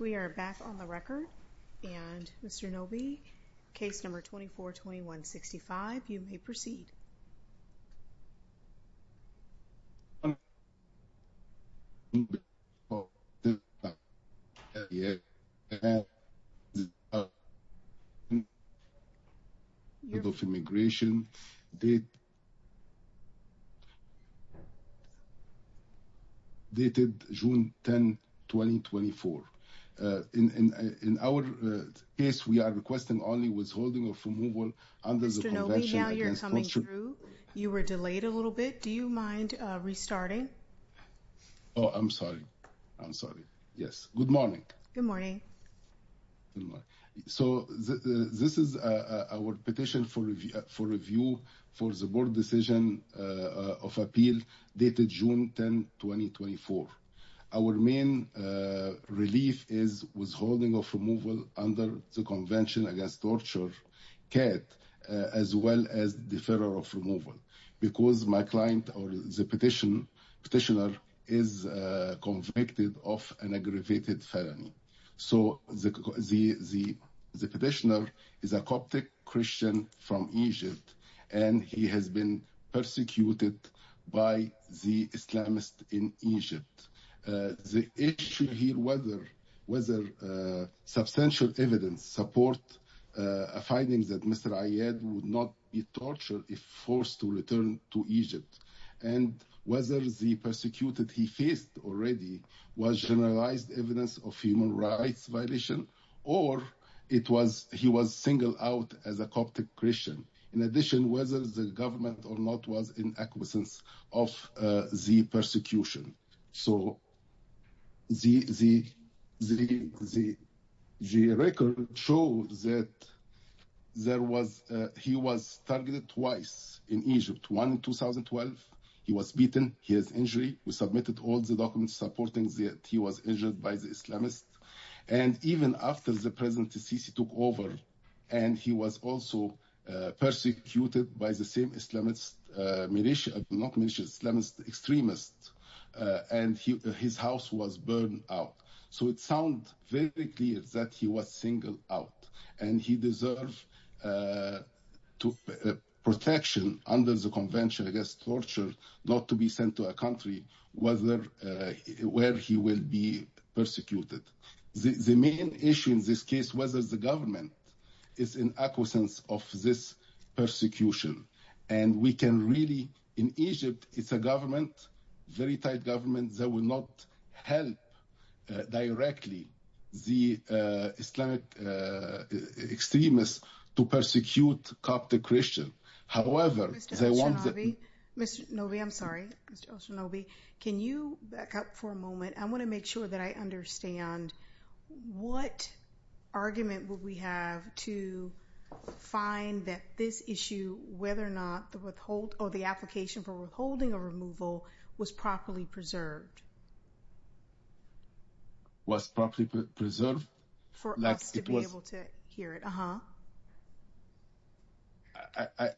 We are back on the record and Mr. Nobi, case number 242165, you may proceed. Mr. Nobi, now you're coming through. You were delayed a little bit. Do you mind restarting? Oh, I'm sorry. I'm sorry. Yes. Good morning. Good morning. So this is our petition for review for the board decision of appeal dated June 10, 2024. Our main relief is withholding of removal under the Convention Against Torture, CAT, as well as deferral of removal. Because my client or the petitioner is convicted of an aggravated felony. So the petitioner is a Coptic Christian from Egypt, and he has been persecuted by the Islamists in Egypt. The issue here, whether substantial evidence support a finding that Mr. Ayad would not be if forced to return to Egypt. And whether the persecuted he faced already was generalized evidence of human rights violation, or he was singled out as a Coptic Christian. In addition, whether the government or not was in acquiescence of the persecution. So the record shows that he was targeted twice in Egypt. One in 2012, he was beaten. He has injury. We submitted all the documents supporting that he was injured by the Islamists. And even after the President el-Sisi took over, and he was also persecuted by the same Islamist militia, not militia, Islamist extremists. And his house was burned out. So it sounds very clear that he was singled out. And he deserves protection under the Convention Against Torture, not to be sent to a country where he will be persecuted. The main issue in this case, whether the government is in acquiescence of this persecution. And we can really, in Egypt, it's a government, very tight government that will not help directly the Islamic extremists to persecute Coptic Christian. However, they want the- Mr. El-Shanobi, I'm sorry. Mr. El-Shanobi, can you back up for a moment? I want to make sure that I understand. What argument would we have to find that this issue, whether or not the application for withholding a removal was properly preserved? Was properly preserved? For us to be able to hear it.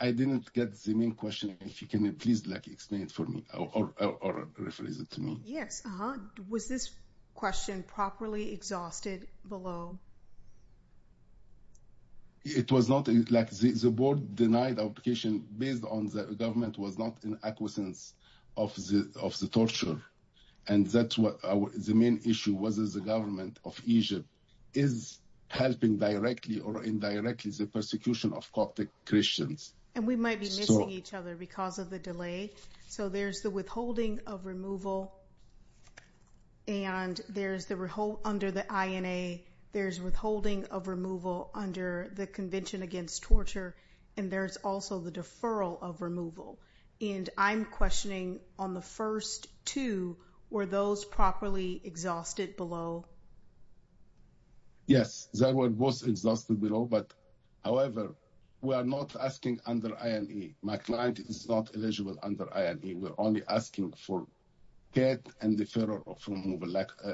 I didn't get the main question. If you can please explain it for me or rephrase it to me. Was this question properly exhausted below? It was not, like the board denied application based on the government was not in acquiescence of the torture. And that's what the main issue was, is the government of Egypt is helping directly or indirectly the persecution of Coptic Christians. And we might be missing each other because of the delay. So there's the withholding of removal. And there's the withholding under the INA. There's withholding of removal under the Convention Against Torture. And there's also the deferral of removal. And I'm questioning on the first two, were those properly exhausted below? Yes, they were both exhausted below. But however, we are not asking under INA. My client is not eligible under INA. We're only asking for CET and deferral of removal,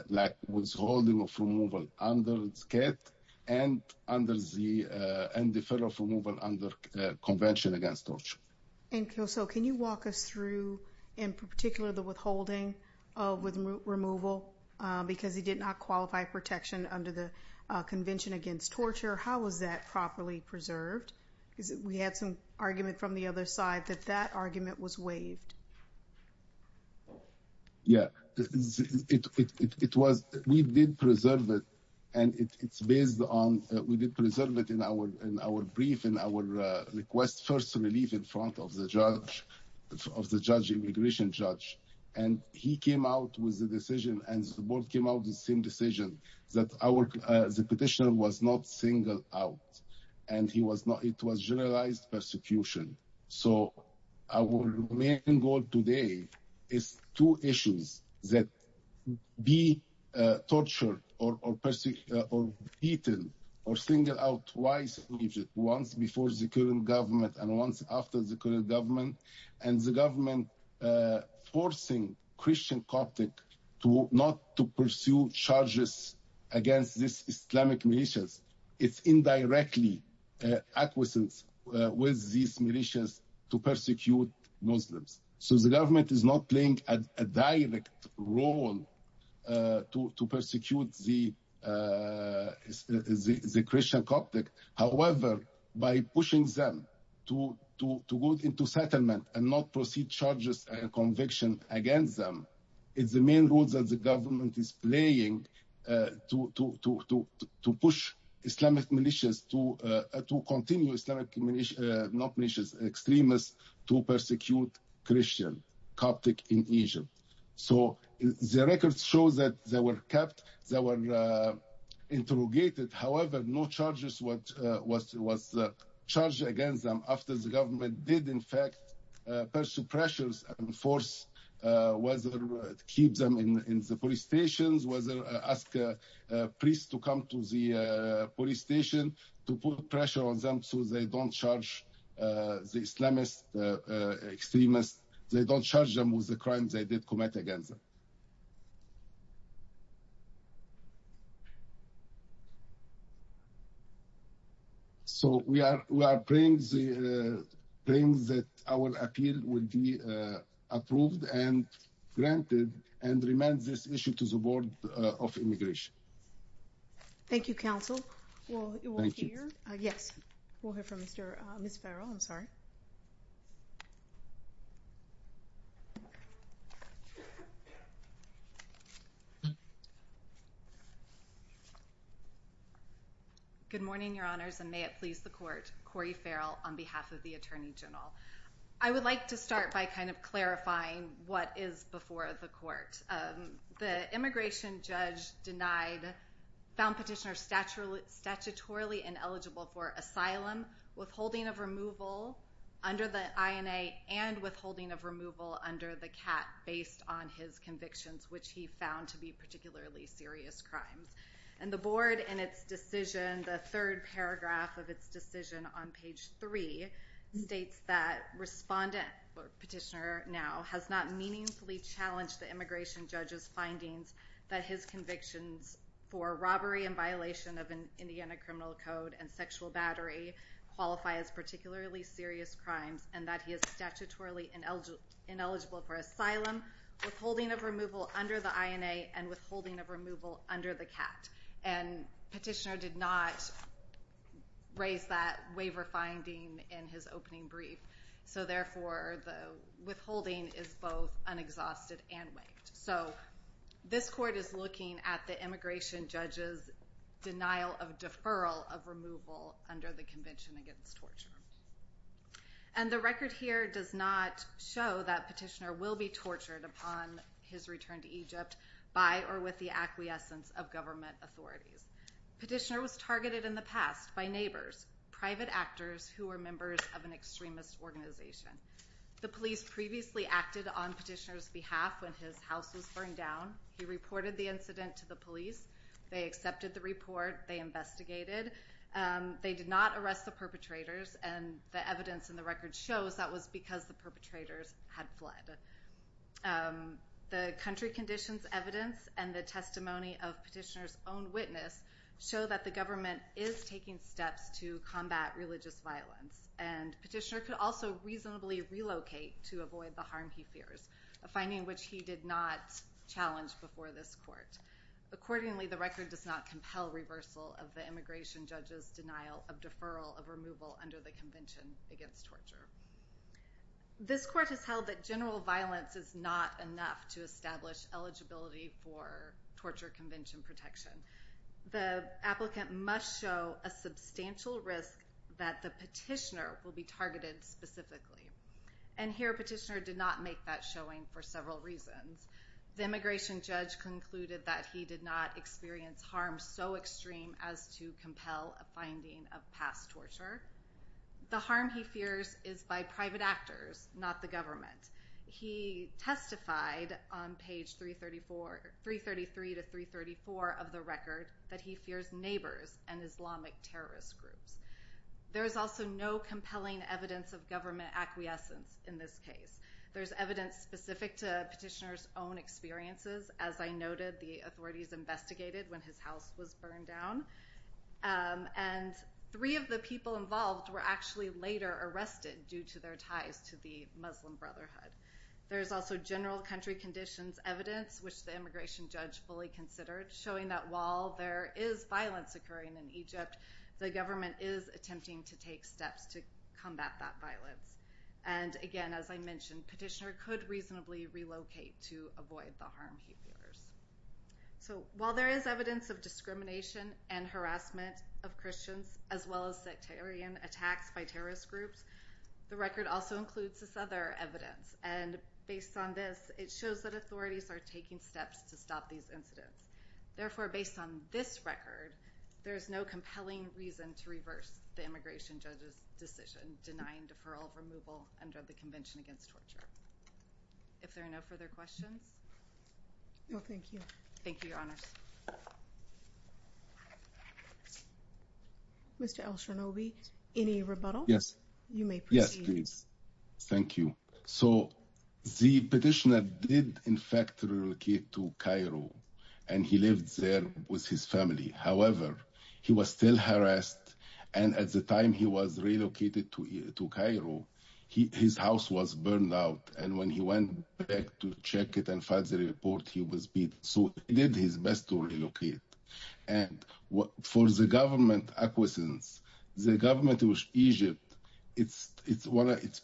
like withholding of removal under CET and deferral of removal under Convention Against Torture. And so can you walk us through, in particular, the withholding with removal? Because he did not qualify protection under the Convention Against Torture. How was that properly preserved? We had some argument from the other side that that argument was waived. Yeah, it was, we did preserve it. And it's based on, we did preserve it in our brief, in our request for relief in front of the judge, of the judge, immigration judge. And he came out with the decision and the board came out with the same decision that the petitioner was not single out. And he was not, it was generalized persecution. So our main goal today is two issues that be tortured or beaten or singled out twice, once before the current government and once after the current government. And the government forcing Christian Catholic to not to pursue charges against this Islamic militias. It's indirectly acquiescence with these militias to persecute Muslims. So the government is not playing a direct role to persecute the Christian Catholic. However, by pushing them to go into settlement and not proceed charges and conviction against them, it's the main role that the government is playing to push Islamic militias, to continue Islamic militias, not militias, extremists, to persecute Christian Catholic in Asia. So the records show that they were kept, they were interrogated. However, no charges was charged against them after the government did in fact pursue pressures and force whether to keep them in the police stations, whether ask a priest to come to the police station to put pressure on them so they don't charge the Islamist extremists, they don't charge them with the crimes they did commit against them. So we are praying that our appeal will be approved and granted and remain this issue to the Board of Immigration. MS ORTAGUSSERY Thank you, Counsel. We'll hear from Mr. – Ms. Farrell, I'm sorry. MS FARRELL Good morning, Your Honors, and may it please the Court, Corey Farrell on behalf of the Attorney General. I would like to start by kind of clarifying what is before the Court. The immigration judge denied, found petitioner statutorily ineligible for asylum, withholding of removal under the INA, and withholding of removal under the CAT based on his convictions, which he found to be particularly serious crimes. And the Board in its decision, the third paragraph of its decision on page three states that respondent, petitioner now, has not meaningfully challenged the immigration judge's findings that his convictions for robbery and violation of Indiana Criminal Code and sexual battery qualify as particularly serious crimes and that he is statutorily ineligible for asylum, withholding of removal under the INA, and withholding of removal under the CAT. And petitioner did not raise that waiver finding in his opening brief. So therefore, the withholding is both unexhausted and waived. So this Court is looking at the immigration judge's denial of deferral of removal under the Convention Against Torture. And the record here does not show that petitioner will be tortured upon his return to Egypt by or with the acquiescence of government authorities. Petitioner was targeted in the past by neighbors, private actors who were members of an extremist organization. The police previously acted on petitioner's behalf when his house was burned down. He reported the incident to the police. They accepted the report. They investigated. They did not arrest the perpetrators. And the evidence in the record shows that was because the perpetrators had fled. The country conditions evidence and the testimony of petitioner's own witness show that the government is taking steps to combat religious violence. And petitioner could also reasonably relocate to avoid the harm he fears, a finding which he did not challenge before this Court. Accordingly, the record does not compel reversal of the immigration judge's denial of deferral of removal under the Convention Against Torture. This Court has held that general violence is not enough to establish eligibility for torture convention protection. The applicant must show a substantial risk that the petitioner will be targeted specifically. And here petitioner did not make that showing for several reasons. The immigration judge concluded that he did not experience harm so extreme as to compel a finding of past torture. The harm he fears is by private actors, not the government. He testified on page 333 to 334 of the record that he fears neighbors and Islamic terrorist groups. There is also no compelling evidence of government acquiescence in this case. There's evidence specific to petitioner's own experiences. As I noted, the authorities investigated when his house was burned down. And three of the people involved were actually later arrested due to their ties to the Muslim Brotherhood. There's also general country conditions evidence, which the immigration judge fully considered, showing that while there is violence occurring in Egypt, the government is attempting to take steps to combat that violence. And again, as I mentioned, petitioner could reasonably relocate to avoid the harm he fears. So while there is evidence of discrimination and harassment of Christians, as well as sectarian attacks by terrorist groups, the record also includes this other evidence. And based on this, it shows that authorities are taking steps to stop these incidents. Therefore, based on this record, there is no compelling reason to reverse the immigration judge's decision denying deferral of removal under the Convention Against Torture. If there are no further questions. No, thank you. Thank you, Your Honors. Mr. Elshanobi, any rebuttal? You may proceed. Yes, please. Thank you. So the petitioner did, in fact, relocate to Cairo, and he lived there with his family. However, he was still harassed. And at the time he was relocated to Cairo, his house was burned out. And when he went back to check it and filed the report, he was beat. So he did his best to relocate. And for the government acquiescence, the government of Egypt, it's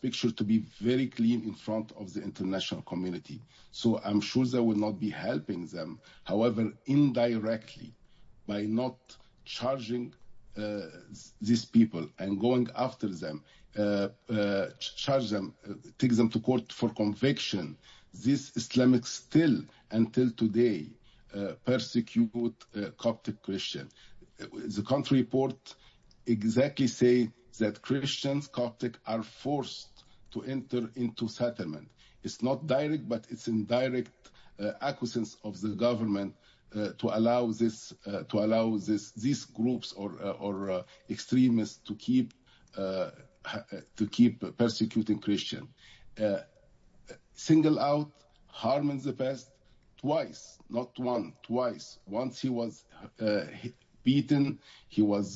picture to be very clean in front of the international community. So I'm sure they will not be helping them. However, indirectly, by not charging these people and going after them, charge them, take them to court for conviction, these Islamists still, until today, persecute Coptic Christians. The country report exactly say that Christians, Coptic, are forced to enter into settlement. It's not direct, but it's indirect acquiescence of the government to allow these groups or extremists to keep persecuting Christians. Single out, harm in the past, twice, not one, twice. Once he was beaten, he has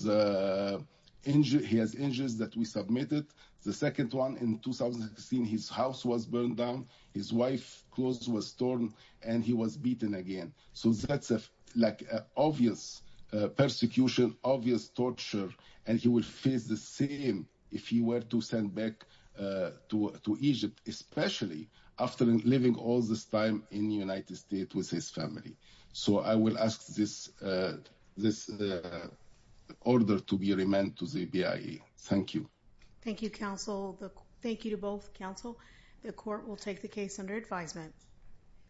injuries that we submitted. The second one in 2016, his house was burned down. His wife clothes was torn and he was beaten again. So that's like obvious persecution, obvious torture. And he will face the same if he were to send back to Egypt, especially after living all this time in the United States with his family. So I will ask this order to be remanded to the BIA. Thank you. Thank you, counsel. Thank you to both counsel. The court will take the case under advisement.